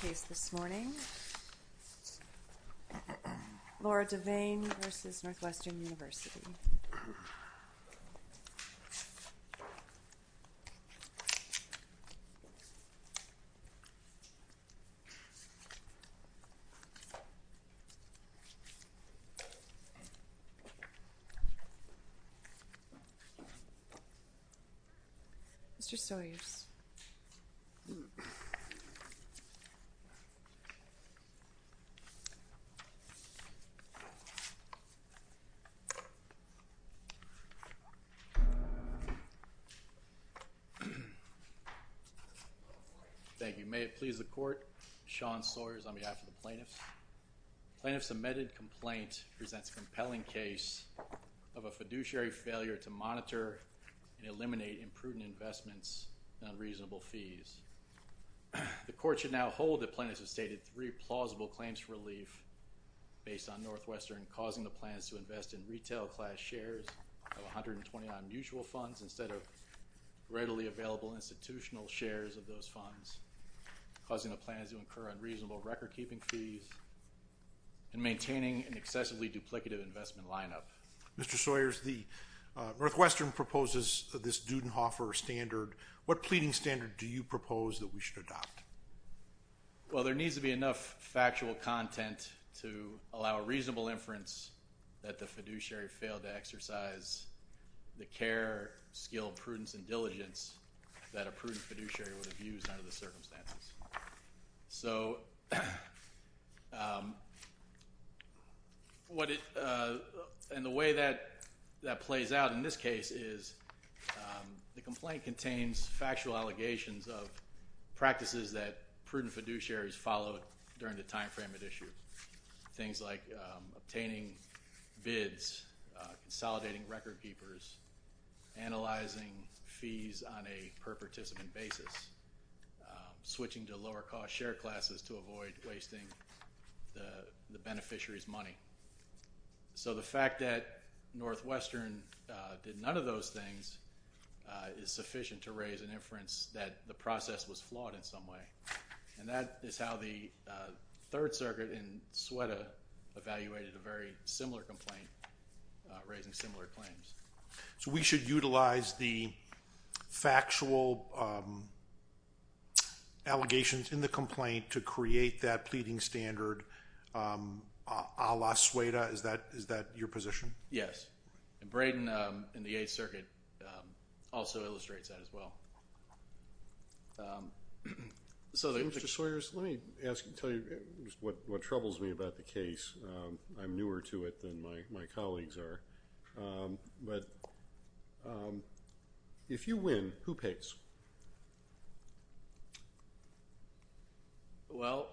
case this morning, Laura Divane v. Northwestern University. Mr. Sawyers. Thank you. May it please the court. Sean Sawyers on behalf of the plaintiffs. Plaintiff's amended complaint presents a compelling case of a fiduciary failure to monitor and eliminate imprudent investments and unreasonable fees. The court should now hold that plaintiffs have stated three plausible claims for relief based on Northwestern causing the plans to incur unreasonable recordkeeping fees and maintaining an excessively duplicative investment lineup. Mr. Sawyers, Northwestern proposes this Dudenhofer standard. What pleading standard do you propose that we should adopt? Well, there needs to be enough factual content to allow a reasonable inference that the fiduciary failed to exercise the care, skill, prudence, and diligence that a prudent fiduciary would have used under the circumstances. So, and the way that plays out in this case is the complaint contains factual allegations of things like obtaining bids, consolidating record keepers, analyzing fees on a per participant basis, switching to lower cost share classes to avoid wasting the beneficiary's money. So the fact that Northwestern did none of those things is sufficient to raise an inference that the process was flawed in some way. And that is how the Third Circuit in Sueda evaluated a very similar complaint raising similar claims. So we should utilize the factual allegations in the complaint to create that pleading standard a la Sueda? Is that your position? Yes. And Mr. Sawyers, let me ask you, tell you what troubles me about the case. I'm newer to it than my colleagues are. But if you win, who pays? Well,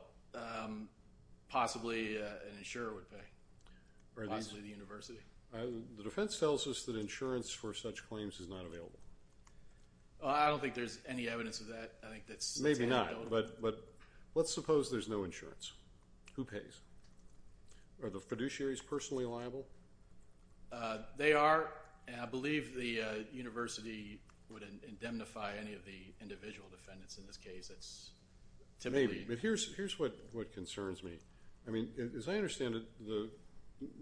possibly an insurer would pay. Possibly the university. The defense tells us that insurance for such claims is not available. Well, I don't think there's any evidence of that. Maybe not. But let's suppose there's no insurance. Who pays? Are the fiduciaries personally liable? They are. I believe the university would indemnify any of the individual defendants in this case. Maybe. But here's what concerns me. I mean, as I understand it, the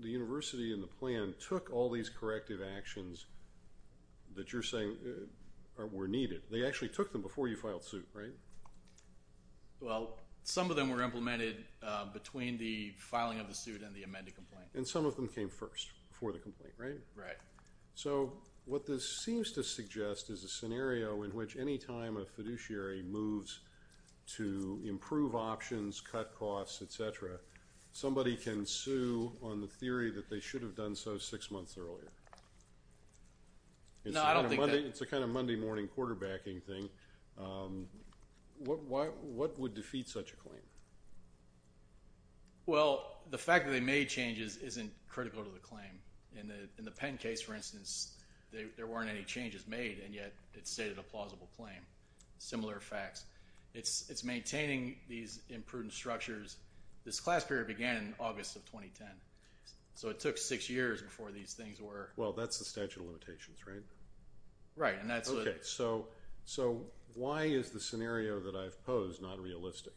university and the plan took all these corrective actions that you're saying were needed. They actually took them before you filed suit, right? Well, some of them were implemented between the filing of the suit and the amended complaint. And some of them came first before the complaint, right? Right. So what this seems to suggest is a scenario in which any time a fiduciary moves to improve options, cut costs, etc., somebody can sue on the theory that they should have done so six months earlier. No, I don't think that. It's a kind of Monday morning quarterbacking thing. What would defeat such a claim? Well, the fact that they made changes isn't critical to the claim. In the Penn case, for instance, there weren't any changes made and yet it stated a plausible claim. Similar facts. It's maintaining these imprudent structures. This took six years before these things were... Well, that's the statute of limitations, right? Right. So why is the scenario that I've posed not realistic?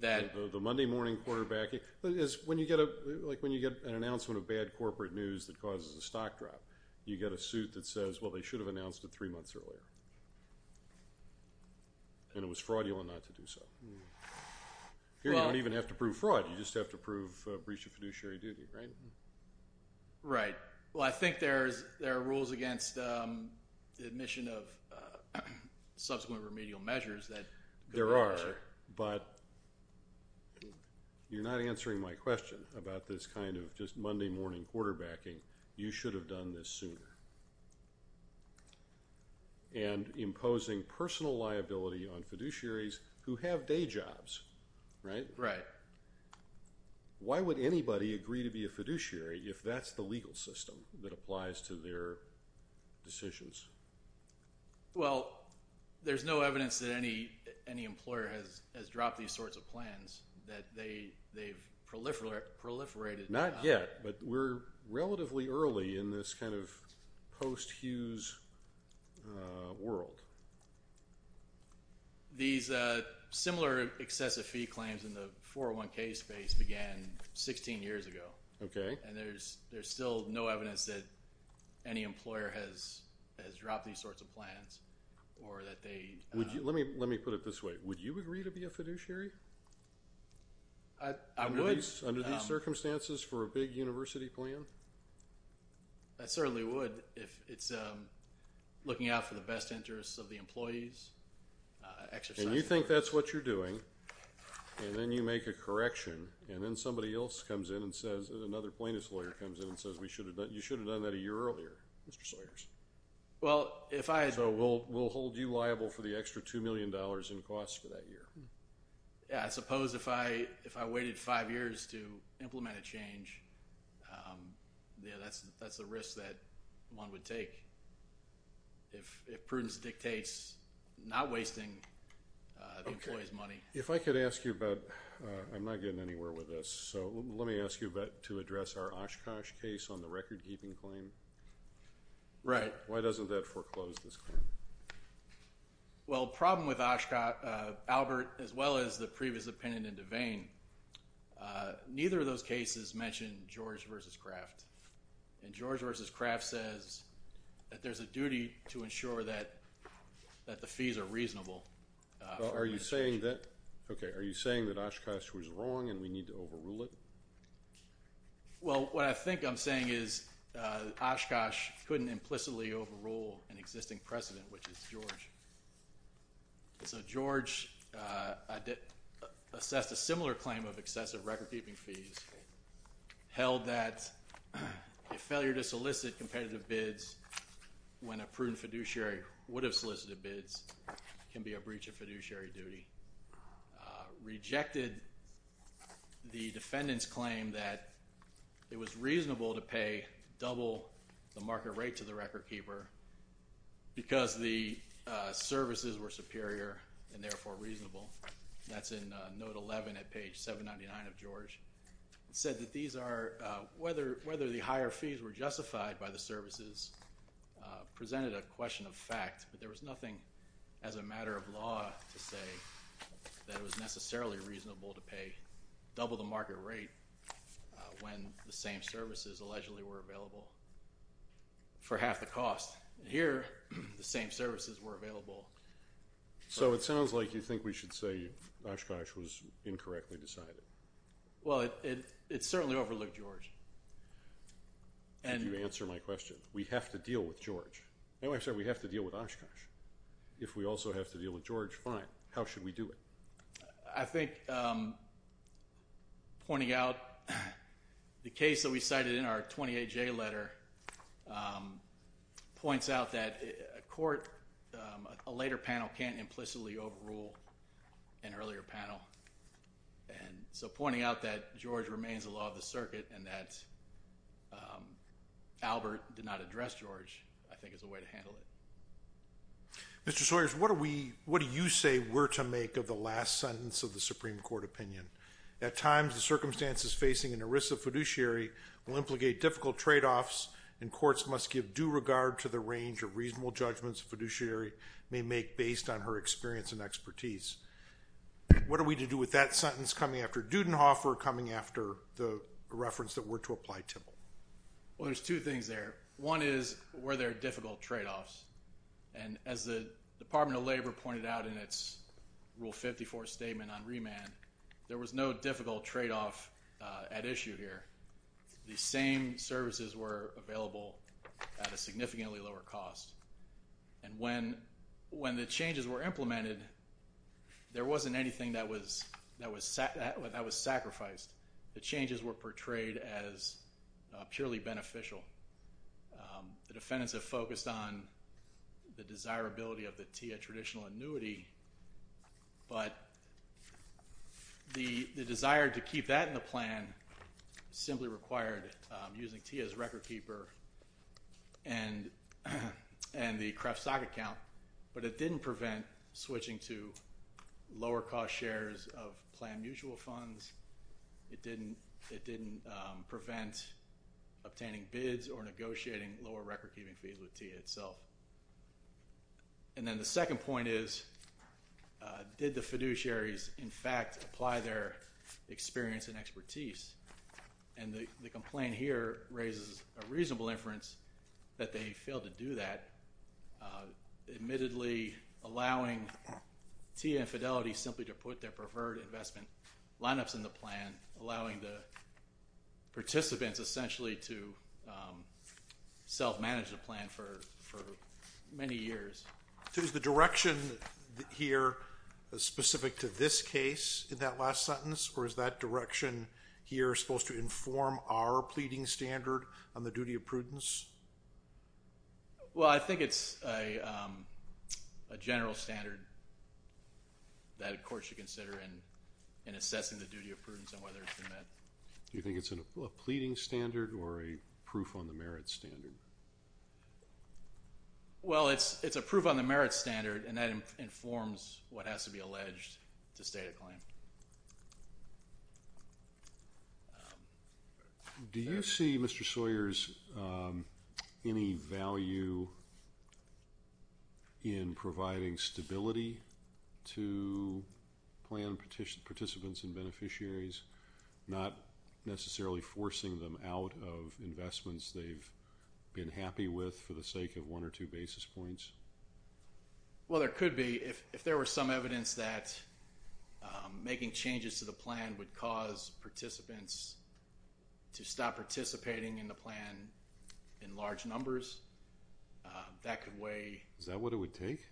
The Monday morning quarterbacking? When you get an announcement of bad corporate news that causes a stock drop, you get a suit that says, well, they should have announced it three months earlier. And it was fraudulent not to do so. Here you don't even have to prove fraud. You just have to prove breach of fiduciary duty, right? Right. Well, I think there are rules against the admission of subsequent remedial measures that... There are, but you're not answering my question about this kind of just Monday morning quarterbacking. You should have done this sooner. And imposing personal liability on fiduciaries who have day jobs, right? Right. Why would anybody agree to be a fiduciary if that's the legal system that applies to their decisions? Well, there's no evidence that any employer has dropped these sorts of plans, that they've proliferated... Not yet, but we're relatively early in this kind of post-Hughes world. These similar excessive fee claims in the 401k space began 16 years ago. Okay. And there's still no evidence that any employer has dropped these sorts of plans or that they... Let me put it this way. Would you agree to be a fiduciary? I would. Under these circumstances for a big employee's exercise... And you think that's what you're doing and then you make a correction and then somebody else comes in and says, another plaintiff's lawyer comes in and says you should have done that a year earlier, Mr. Sawyers. So we'll hold you liable for the extra $2 million in costs for that year. Yeah, I suppose if I waited five years to implement a change, yeah, that's the risk that one would take. If prudence dictates not wasting the employee's money. Okay. If I could ask you about... I'm not getting anywhere with this, so let me ask you about to address our Oshkosh case on the record keeping claim. Right. Why doesn't that foreclose this claim? Well, the problem with Oshkosh, Albert, as well as the previous opinion in Devane, neither of those cases mentioned George versus Kraft. And George versus Kraft says that there's a duty to ensure that the fees are reasonable. Are you saying that Oshkosh was wrong and we need to overrule it? Well, what I think I'm saying is Oshkosh couldn't implicitly overrule an existing precedent, which is George. So George assessed a similar claim of excessive record keeping fees, held that Oshkosh was a failure to solicit competitive bids when a prudent fiduciary would have solicited bids can be a breach of fiduciary duty, rejected the defendant's claim that it was reasonable to pay double the market rate to the record keeper because the services were superior and therefore reasonable. That's in note 11 at page 799 of George. It said that these are, whether the higher fees were justified by the services presented a question of fact, but there was nothing as a matter of law to say that it was necessarily reasonable to pay double the market rate when the same services allegedly were available for half the cost. Here the same services were available. So it sounds like you think we should say Oshkosh was incorrectly decided. Well, it certainly overlooked George. Could you answer my question? We have to deal with George. No, I'm sorry. We have to deal with Oshkosh. If we also have to deal with George, fine. How should we do it? I think pointing out the case that we cited in our 28J letter points out that a court, a later panel can't implicitly overrule an earlier panel. So pointing out that George remains a law of the circuit and that Albert did not address George I think is a way to handle it. Mr. Sawyers, what do you say we're to make of the last sentence of the Supreme Court opinion? At times the circumstances facing an ERISA fiduciary will implicate difficult tradeoffs and courts must give due regard to the range of reasonable judgments a fiduciary may make based on her experience and expertise. What are we to do with that sentence coming after Dudenhoff or coming after the reference that we're to apply to him? Well, there's two things there. One is were there difficult tradeoffs? And as the Department of Labor pointed out in its Rule 54 statement on remand, there was no difficult tradeoff at issue here. The same services were available at a significant lower cost. And when the changes were implemented, there wasn't anything that was sacrificed. The changes were portrayed as purely beneficial. The defendants have focused on the desirability of the TIA traditional annuity, but the desire to keep that in the plan simply required using TIA's record keeper and the Kreft stock account. But it didn't prevent switching to lower cost shares of plan mutual funds. It didn't prevent obtaining bids or negotiating lower record keeping fees with TIA itself. And then the second point is did the fiduciaries in fact apply their experience and expertise? And the complaint here raises a reasonable inference that they failed to do that, admittedly allowing TIA and Fidelity simply to put their preferred investment lineups in the plan, allowing the participants essentially to self-manage the plan for many years. So is the direction here specific to this case in the case of Dudenhoff in that last sentence, or is that direction here supposed to inform our pleading standard on the duty of prudence? Well, I think it's a general standard that a court should consider in assessing the duty of prudence and whether it's been met. Do you think it's a pleading standard or a proof on the merit standard? Well, it's a proof on the merit standard, and that informs what has to be alleged to be true. Do you see, Mr. Sawyers, any value in providing stability to plan participants and beneficiaries, not necessarily forcing them out of investments they've been happy with for the sake of one or two basis points? Well, there could be. If there were some evidence that making changes to the plan would cause participants to stop participating in the plan in large numbers, that could weigh... Is that what it would take?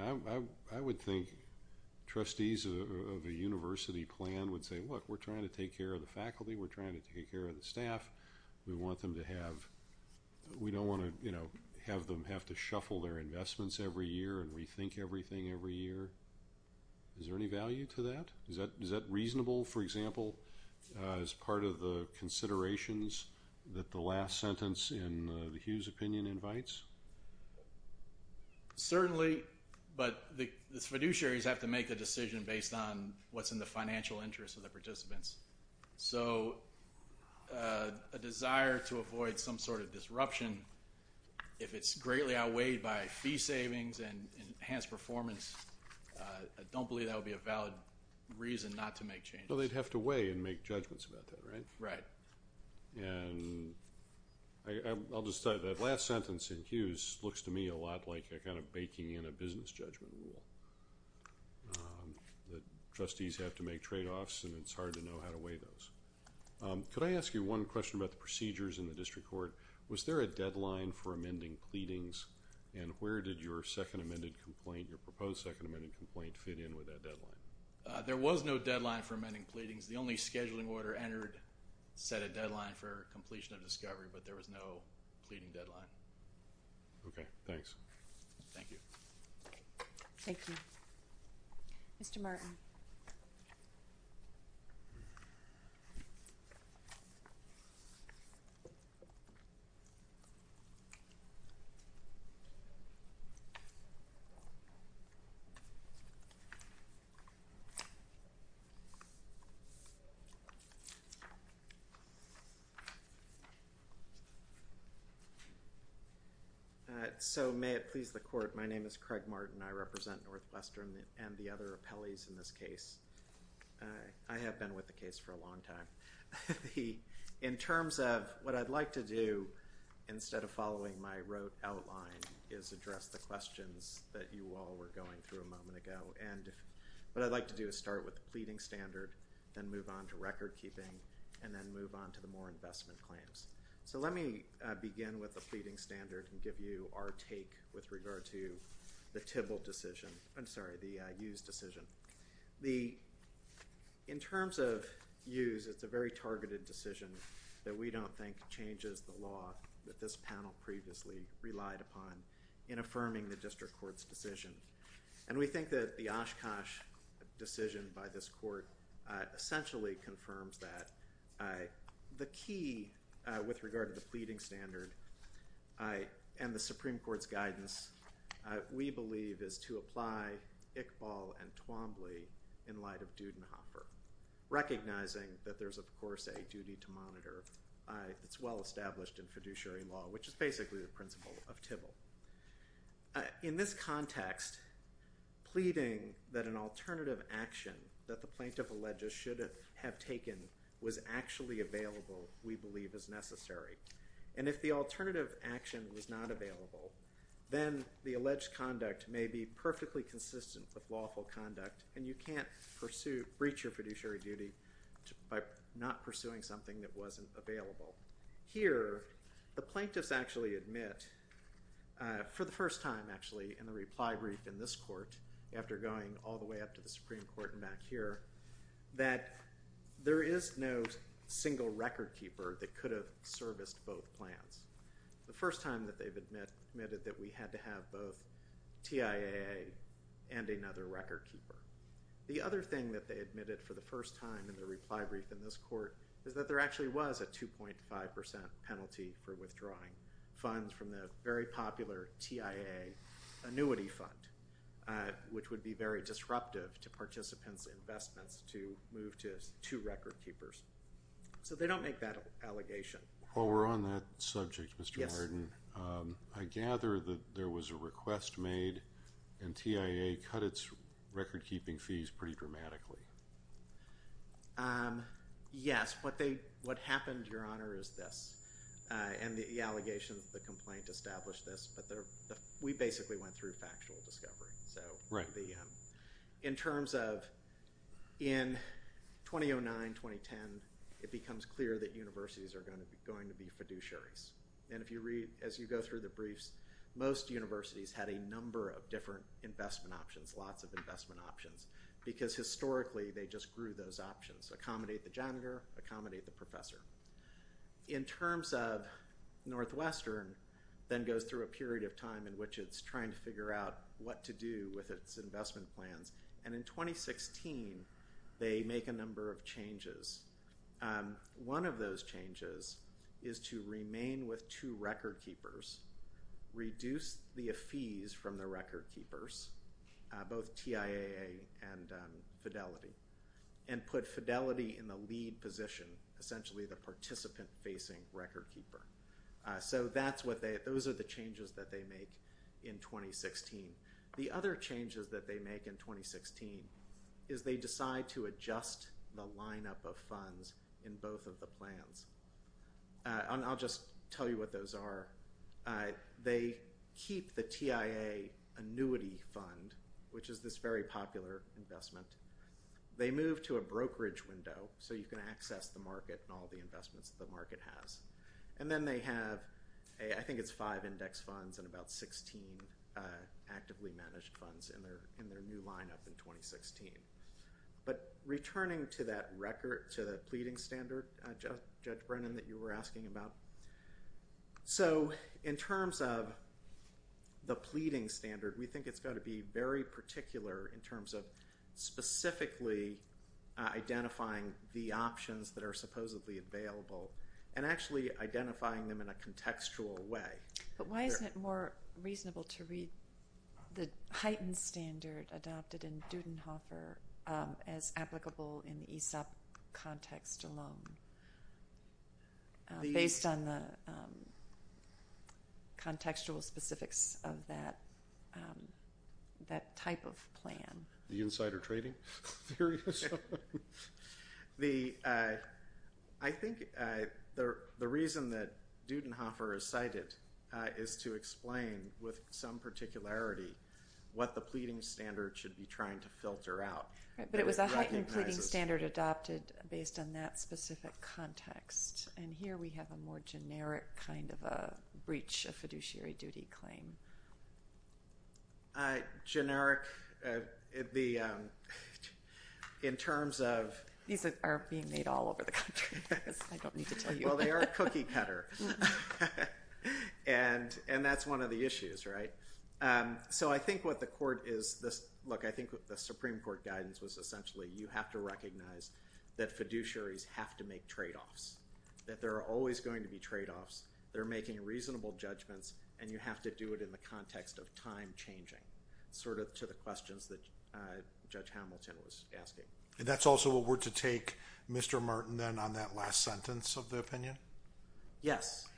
I would think trustees of a university plan would say, look, we're trying to take care of the faculty, we're trying to take care of the staff, we don't want to have them have to shuffle their investments every year and rethink everything every year. Is there any value to that? Is that reasonable, for example, as part of the considerations that the last sentence in the Hughes opinion invites? Certainly, but the fiduciaries have to make a decision based on what's in the financial system. If it's greatly outweighed by fee savings and enhanced performance, I don't believe that would be a valid reason not to make changes. Well, they'd have to weigh and make judgments about that, right? Right. That last sentence in Hughes looks to me a lot like a kind of baking in a business judgment rule, that trustees have to make trade-offs and it's hard to know how to weigh those. Could I ask you one question about the procedures in the district court? Was there a deadline for amending pleadings and where did your second amended complaint, your proposed second amended complaint, fit in with that deadline? There was no deadline for amending pleadings. The only scheduling order entered set a deadline for completion of discovery, but there was no pleading deadline. Okay, thanks. Thank you. Thank you. Mr. Martin. So, may it please the Court, my name is Craig Martin. I represent Northwestern and the other four appellees in this case. I have been with the case for a long time. In terms of what I'd like to do, instead of following my wrote outline, is address the questions that you all were going through a moment ago, and what I'd like to do is start with the pleading standard, then move on to record keeping, and then move on to the more investment claims. So, let me begin with the pleading standard and give you our take with regard to the TBIL decision, I'm sorry, the Hughes decision. In terms of Hughes, it's a very targeted decision that we don't think changes the law that this panel previously relied upon in affirming the district court's decision, and we think that the Oshkosh decision by this court essentially confirms that. The key with regard to the pleading standard and the Supreme Court's decision, we believe, is to apply Iqbal and Twombly in light of Dudenhofer, recognizing that there's, of course, a duty to monitor. It's well established in fiduciary law, which is basically the principle of TBIL. In this context, pleading that an alternative action that the plaintiff alleges should have taken was actually available, we believe, is necessary. And if the alternative action was not available, then the alleged conduct may be perfectly consistent with lawful conduct, and you can't breach your fiduciary duty by not pursuing something that wasn't available. Here, the plaintiffs actually admit, for the first time, actually, in the reply brief in this court, after going all the way up to the Supreme Court, that they missed both plans. The first time that they've admitted that we had to have both TIA and another record keeper. The other thing that they admitted for the first time in the reply brief in this court is that there actually was a 2.5 percent penalty for withdrawing funds from the very popular TIA annuity fund, which would be very disruptive to participants' investments to move to two record keepers. So they don't make that allegation. While we're on that subject, Mr. Martin, I gather that there was a request made, and TIA cut its record keeping fees pretty dramatically. Yes. What happened, Your Honor, is this. And the allegations, the complaint established this, but we basically went through fiduciaries. And if you read, as you go through the briefs, most universities had a number of different investment options, lots of investment options, because historically they just grew those options. Accommodate the janitor, accommodate the professor. In terms of Northwestern, then goes through a period of time in which it's trying to figure out what to do with its investment plans. And in 2016, they make a number of changes. One of those changes is to remain with two record keepers, reduce the fees from the record keepers, both TIA and Fidelity, and put Fidelity in the lead position, essentially the participant facing record keeper. So those are the changes that they make in 2016. The other changes that they make in 2016 is they decide to adjust the lineup of funds in both of the plans. And I'll just tell you what those are. They keep the TIA annuity fund, which is this very popular investment. They move to a brokerage window, so you can access the market and all the investments the market has. And then they have, I think it's five index funds and about 16 actively managed funds in their new lineup in 2016. But returning to that record, to the pleading standard, Judge Brennan, that you were asking about. So in terms of the pleading standard, we think it's got to be very particular in terms of specifically identifying the options that are supposedly available and actually identifying them in a contextual way. But why isn't it more reasonable to read the heightened standard adopted in Dudenhofer as applicable in the ESOP context alone, based on the contextual specifics of that type of plan? The insider trading theory? I think the reason that Dudenhofer is cited is to explain with some particularity what the pleading standard should be trying to filter out. But it was a heightened pleading standard adopted based on that specific context. And here we have a more generic kind of a breach of fiduciary duty claim. Generic. In terms of— These are being made all over the country. I don't need to tell you. Well, they are cookie cutter. And that's one of the issues, right? So I think what the court is—look, I think the Supreme Court guidance was essentially you have to recognize that fiduciaries have to make tradeoffs. That there are always going to be tradeoffs. They're making reasonable judgments, and you have to do it in the context of time changing, sort of to the questions that Judge Hamilton was asking. And that's also a word to take, Mr. Martin, then, on that last sentence of the opinion? Yes.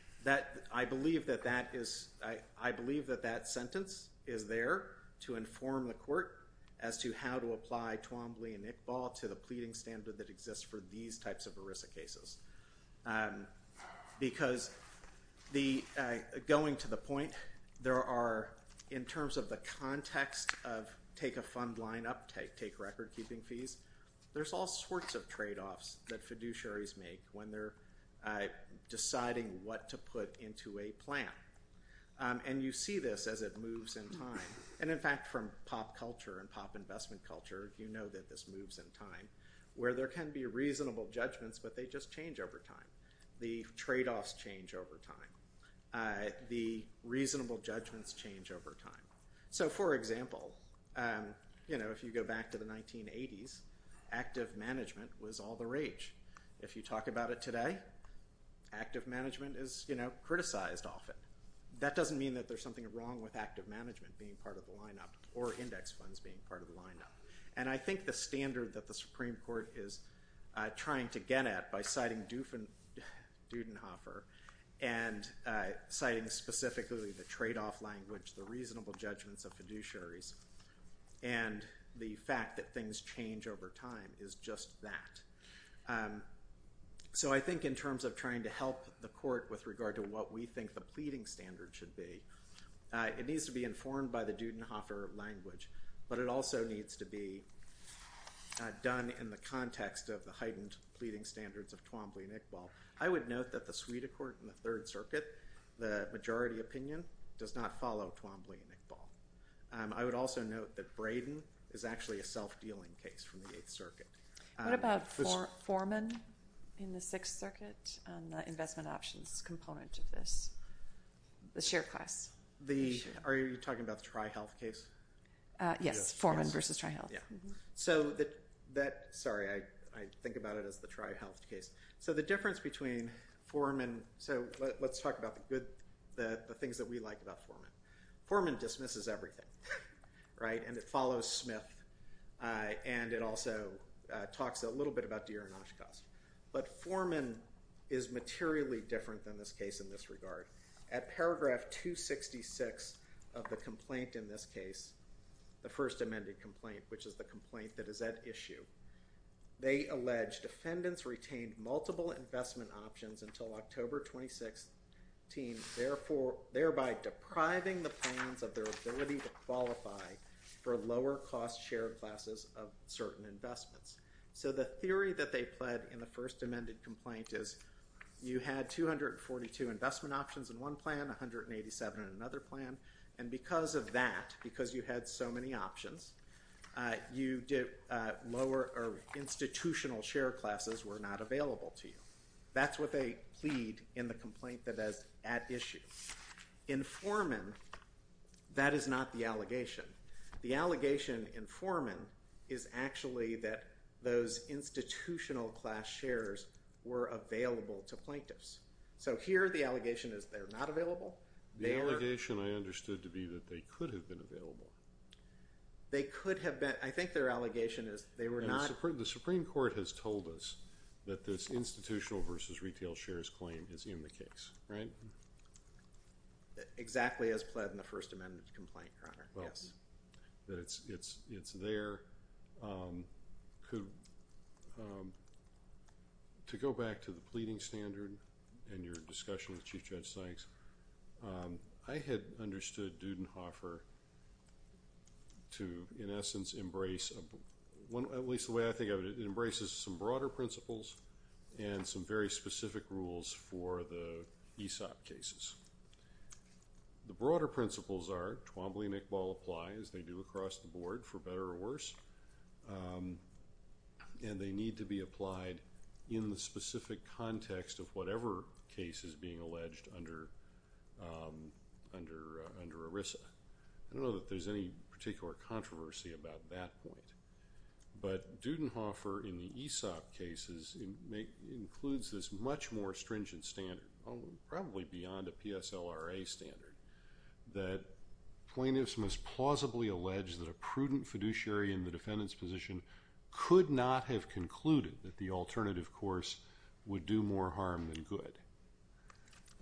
I believe that that is—I believe that that sentence is there to inform the court as to how to apply Twombly and Iqbal to the pleading standard that exists for these types of ERISA cases. Because going to the point, there are, in terms of the context of take a fund line up, take record keeping fees, there's all sorts of tradeoffs that fiduciaries make when they're deciding what to put into a plan. And you see this as it moves in time. And in fact, from pop culture and pop investment culture, you know that this moves in time. Where there can be reasonable judgments, but they just change over time. The tradeoffs change over time. The reasonable judgments change over time. So, for example, you know, if you go back to the 1980s, active management was all the rage. If you talk about it today, active management is, you know, criticized often. That doesn't mean that there's something wrong with active management being part of the lineup, or index funds being part of the lineup. And I think the standard that the Supreme Court is trying to get at by citing Dudenhofer and citing specifically the tradeoff language, the reasonable judgments of fiduciaries, and the fact that things change over time is just that. So I think in terms of trying to help the court with regard to what we think the pleading standard should be, it needs to be informed by the Dudenhofer language, but it also needs to be done in the context of the heightened pleading standards of Twombly and Iqbal. I would note that the suite of court in the Third Circuit, the majority opinion, does not follow Twombly and Iqbal. I would also note that Braden is actually a self-dealing case from the Eighth Circuit. What about Foreman in the Sixth Circuit, the investment options component of this, the share class? Are you talking about the Tri-Health case? Yes, Foreman versus Tri-Health. So that, sorry, I think about it as the Tri-Health case. So the difference between Foreman, so let's talk about the things that we like about Foreman. Foreman dismisses everything, right, and it follows Smith, and it also talks a little bit about Deere and Oshkosk. But Foreman is materially different than this case in this regard. At paragraph 266 of the complaint in this case, the first amended complaint, which is the complaint that is at issue, they allege defendants retained multiple investment options until October 2016, therefore, thereby depriving the plans of their ability to qualify for lower cost share classes of certain investments. So the theory that they pled in the first amended complaint is you had 242 investment options in one plan, 187 in another plan, and because of that, because you had so many options, you did lower, or institutional share classes were not available to you. That's what they plead in the complaint that is at issue. In Foreman, that is not the allegation. The allegation in Foreman is actually that those institutional class shares were available to plaintiffs. So here the allegation is they're not available. The allegation I understood to be that they could have been available. They could have been. I think their allegation is they were not. The Supreme Court has told us that this institutional versus retail shares claim is in the case, right? Exactly as pled in the first amended complaint, Your Honor. Well, it's there. To go back to the pleading standard and your discussion with Chief Judge it embraces some broader principles and some very specific rules for the ESOP cases. The broader principles are Twombly and Iqbal apply as they do across the board for better or worse, and they need to be applied in the specific context of whatever case is being alleged under ERISA. I don't know that there's any particular controversy about that point, but Dudenhofer in the ESOP cases includes this much more stringent standard, probably beyond a PSLRA standard, that plaintiffs must plausibly allege that a prudent fiduciary in the defendant's position could not have concluded that the alternative course would do more harm than good.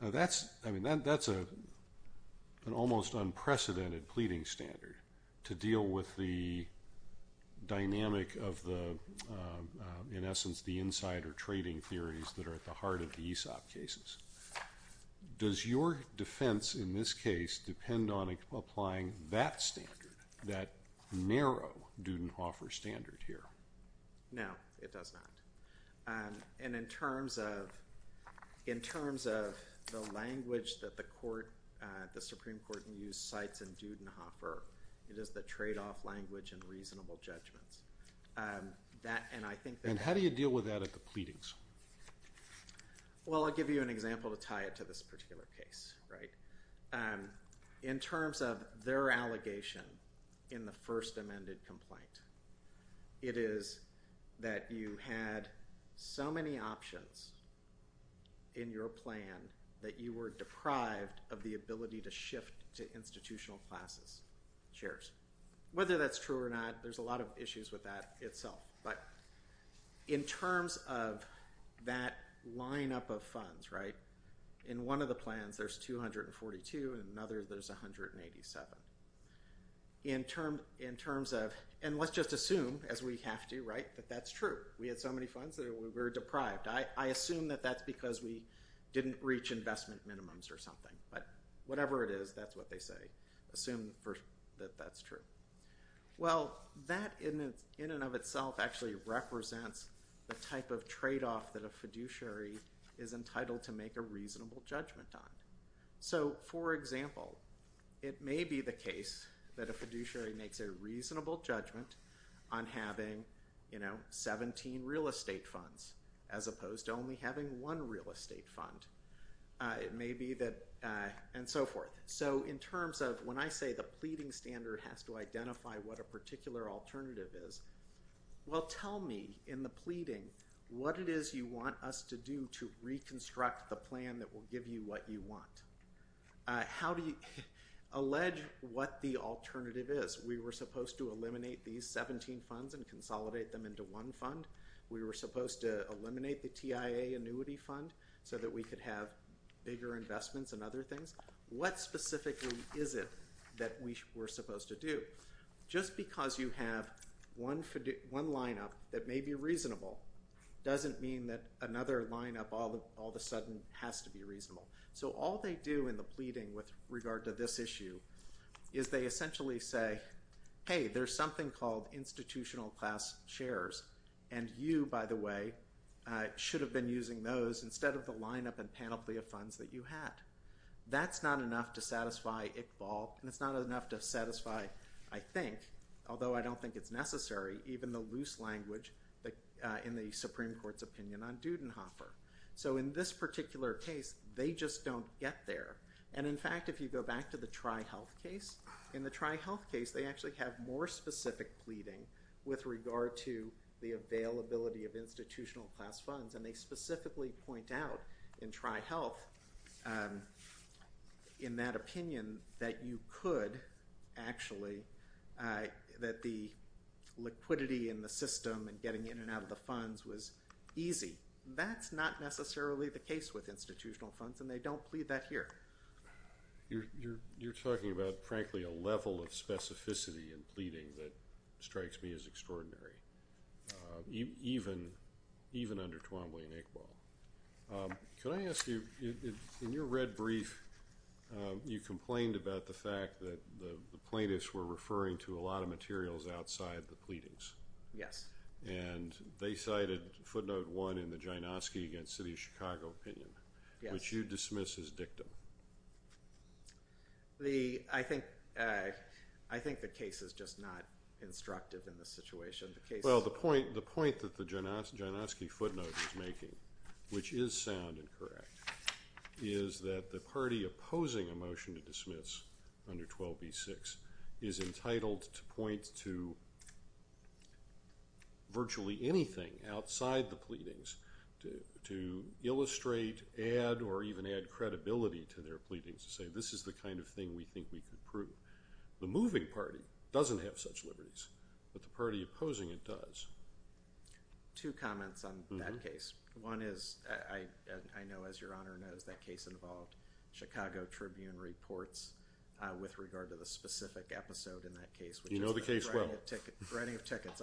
That's an almost unprecedented pleading standard to deal with the dynamic of the, in essence, the insider trading theories that are at the heart of the ESOP cases. Does your defense in this case depend on applying that standard, that narrow Dudenhofer standard here? No, it does not. And in terms of the language that the Supreme Court used to cite Dudenhofer, it is the tradeoff language and reasonable judgments. And how do you deal with that at the pleadings? Well, I'll give you an example to tie it to this particular case. In terms of their allegation in the first amended complaint, it is that you had so many options in your plan that you were deprived of the ability to shift to institutional classes, shares. Whether that's true or not, there's a lot of issues with that itself. But in terms of that lineup of funds, right, in one of the plans there's 242, in another there's 187. And let's just assume, as we have to, right, that that's true. We had so many funds that we were deprived. I assume that that's because we didn't reach investment minimums or something. But whatever it is, that's what they say. Assume that that's true. Well, that in and of itself actually represents the type of tradeoff that a fiduciary is entitled to make a reasonable judgment on. So, for example, it may be the case that a fiduciary makes a reasonable judgment on having, you know, 17 real estate funds as opposed to only having one real estate fund. It may be that, and so forth. So in terms of when I say the pleading standard has to identify what a particular alternative is, well, tell me in the pleading what it is you want us to do to reconstruct the plan that will give you what you want. How do you allege what the alternative is? We were supposed to eliminate these 17 funds and consolidate them into one fund. We were supposed to eliminate the TIA annuity fund so that we could have bigger investments and other things. What specifically is it that we were supposed to do? Just because you have one lineup that may be reasonable doesn't mean that another lineup all of a sudden has to be reasonable. So all they do in the pleading with regard to this issue is they essentially say, hey, there's something called institutional class shares, and you, by the way, should have been using those instead of the lineup and panoply of funds that you had. That's not enough to satisfy Iqbal, and it's not enough to satisfy, I think, although I don't think it's necessary, even the loose language in the Supreme Court's opinion on Dudenhofer. So in this particular case, they just don't get there. And in fact, if you go back to the TriHealth case, in the TriHealth case, they actually have more specific pleading with regard to the availability of institutional class funds, and they specifically point out in TriHealth in that opinion that you could actually, that the liquidity in the system and getting in and out of the funds was easy. That's not necessarily the case with institutional funds, and they don't plead that here. You're talking about, frankly, a level of specificity in pleading that strikes me as extraordinary, even under Twombly and Iqbal. Can I ask you, in your red brief, you complained about the fact that the plaintiffs were referring to a lot of materials outside the pleadings. Yes. And they cited footnote one in the Jynoski against City of Chicago opinion. Yes. Which you dismiss as dictum. I think the case is just not instructive in this situation. Well, the point that the Jynoski footnote is making, which is sound and correct, is that the party opposing a motion to dismiss under 12b-6 is entitled to point to virtually anything outside the pleadings to illustrate, add, or even add credibility to their pleadings to say this is the kind of thing we think we could prove. The moving party doesn't have such liberties, but the party opposing it does. Two comments on that case. One is, I know as your Honor knows, that case involved Chicago Tribune reports with regard to the specific episode in that case. You know the case well. Writing of tickets.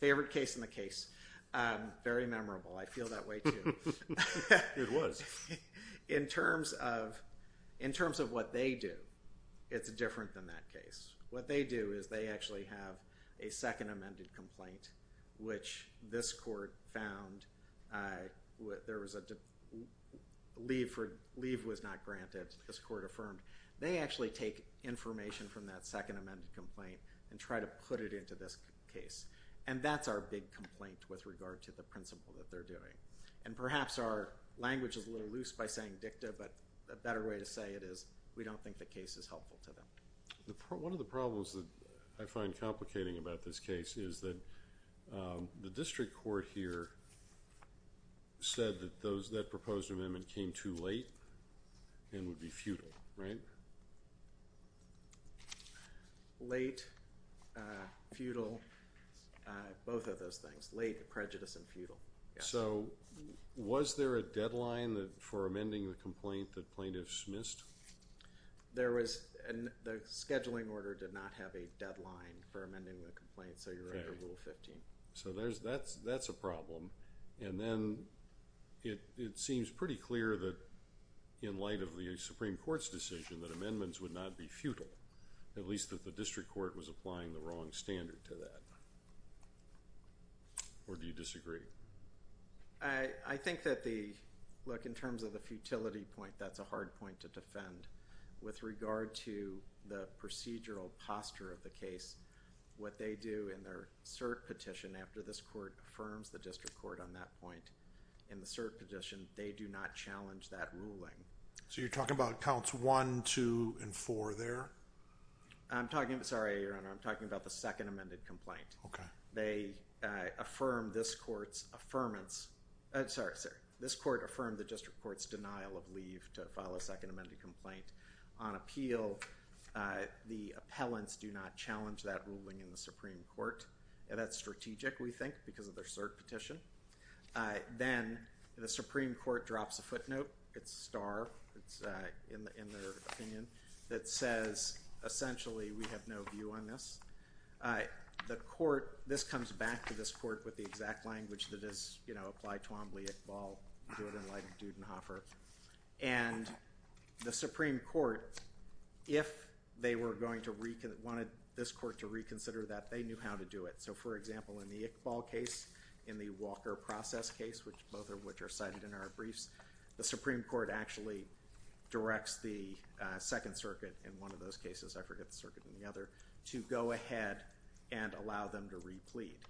Favorite case in the case. Very memorable. I feel that way, too. It was. In terms of what they do, it's different than that case. What they do is they actually have a second amended complaint, which this court found there was a leave was not granted, this court affirmed. They actually take information from that second amended complaint and try to put it into this case. And that's our big complaint with regard to the principle that they're doing. And perhaps our language is a little loose by saying dicta, but a better way to say it is we don't think the case is helpful to them. One of the problems that I find complicating about this case is that the district court here said that that proposed amendment came too late and would be futile, right? Late, futile, both of those things. Late, prejudice, and futile. So, was there a deadline for amending the complaint that plaintiffs missed? There was. The scheduling order did not have a deadline for amending the complaint, so you're under Rule 15. Okay. So, that's a problem. And then it seems pretty clear that in light of the Supreme Court's decision that amendments would not be futile, at least that the district court was applying the wrong standard to that. Or do you disagree? I think that the, look, in terms of the futility point, that's a hard point to defend. With regard to the procedural posture of the case, what they do in their cert petition, after this court affirms the district court on that point in the cert petition, they do not challenge that ruling. So, you're talking about counts 1, 2, and 4 there? I'm talking, sorry, Your Honor, I'm talking about the second amended complaint. Okay. They affirm this court's affirmance. Sorry, sorry. This court affirmed the district court's denial of leave to file a second amended complaint. On appeal, the appellants do not challenge that ruling in the Supreme Court. And that's strategic, we think, because of their cert petition. Then the Supreme Court drops a footnote. It's a star. It's in their opinion. That says, essentially, we have no view on this. The court, this comes back to this court with the exact language that is, you know, apply Twombly, Iqbal, do it in light of Dudenhofer. And the Supreme Court, if they were going to, wanted this court to reconsider that, they knew how to do it. So, for example, in the Iqbal case, in the Walker process case, both of which are cited in our briefs, the Supreme Court actually directs the Second Circuit in one of those cases, I forget the circuit in the other, to go ahead and allow them to replete,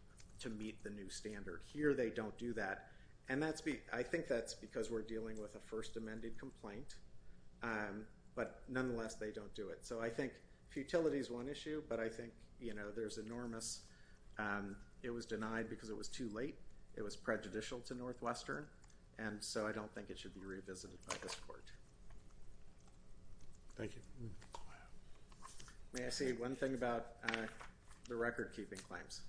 to meet the new standard. Here they don't do that. And I think that's because we're dealing with a first amended complaint. But nonetheless, they don't do it. So I think futility is one issue, but I think, you know, there's enormous, it was denied because it was too late. It was prejudicial to Northwestern. And so I don't think it should be revisited by this court. Thank you. May I say one thing about the record-keeping claims?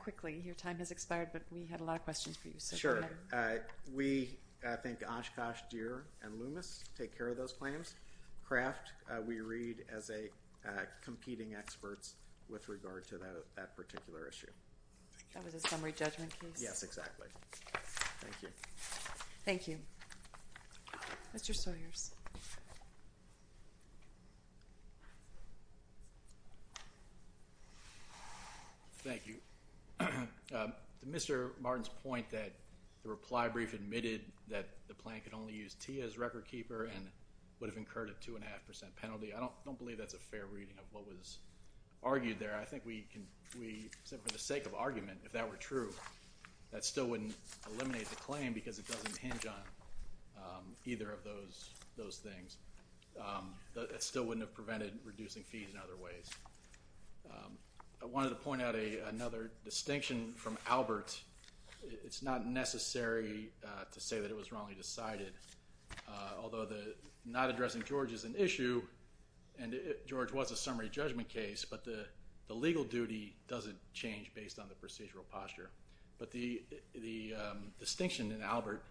Quickly. Your time has expired, but we had a lot of questions for you. We think Oshkosh, Deere, and Loomis take care of those claims. Kraft we read as competing experts with regard to that particular issue. That was a summary judgment case? Yes, exactly. Thank you. Thank you. Mr. Sawyers. Thank you. To Mr. Martin's point that the reply brief admitted that the plant could only use TIA as record-keeper and would have incurred a 2.5% penalty, I don't believe that's a fair reading of what was argued there. I think we can, except for the sake of argument, if that were true, that still wouldn't eliminate the claim because it doesn't hinge on either of those things. That still wouldn't have prevented reducing fees in other ways. I wanted to point out another distinction from Albert. It's not necessary to say that it was wrongly decided. Although not addressing George is an issue, and George was a summary judgment case, but the legal duty doesn't change based on the procedural posture. But the distinction in Albert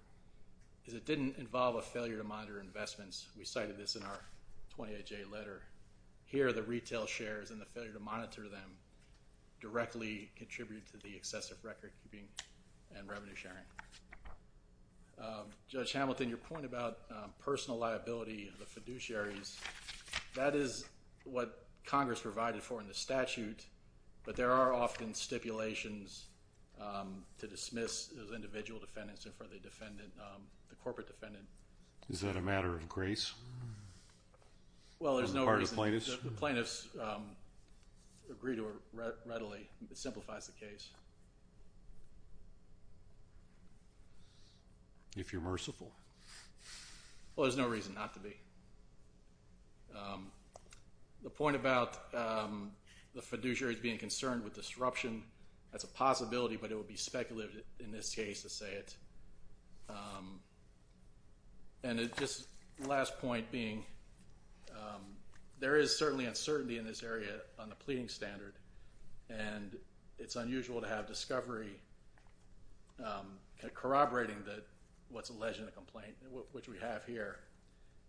is it didn't involve a failure to monitor investments. We cited this in our 28-J letter. Here, the retail shares and the failure to monitor them directly contribute to the excessive record-keeping and revenue sharing. Judge Hamilton, your point about personal liability of the fiduciaries, that is what Congress provided for in the statute, but there are often stipulations to dismiss as individual defendants in front of the corporate defendant. Is that a matter of grace on the part of the plaintiffs? The plaintiffs agree to it readily. It simplifies the case. If you're merciful. Well, there's no reason not to be. The point about the fiduciaries being concerned with disruption, that's a possibility, but it would be speculative in this case to say it. And just the last point being there is certainly uncertainty in this area on the pleading standard, and it's unusual to have discovery corroborating what's alleged in the complaint, which we have here.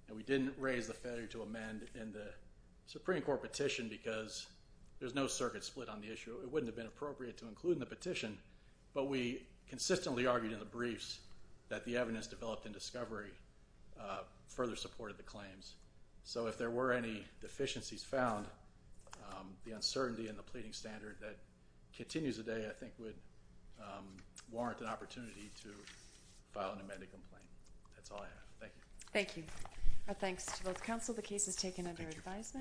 And we didn't raise the failure to amend in the Supreme Court petition because there's no circuit split on the issue. It wouldn't have been appropriate to include in the petition, but we consistently argued in the briefs that the evidence developed in discovery further supported the claims. So if there were any deficiencies found, the uncertainty in the pleading standard that continues today I think would warrant an opportunity to file an amended complaint. That's all I have. Thank you. Thank you. Thanks to both counsel. The case is taken under advisement.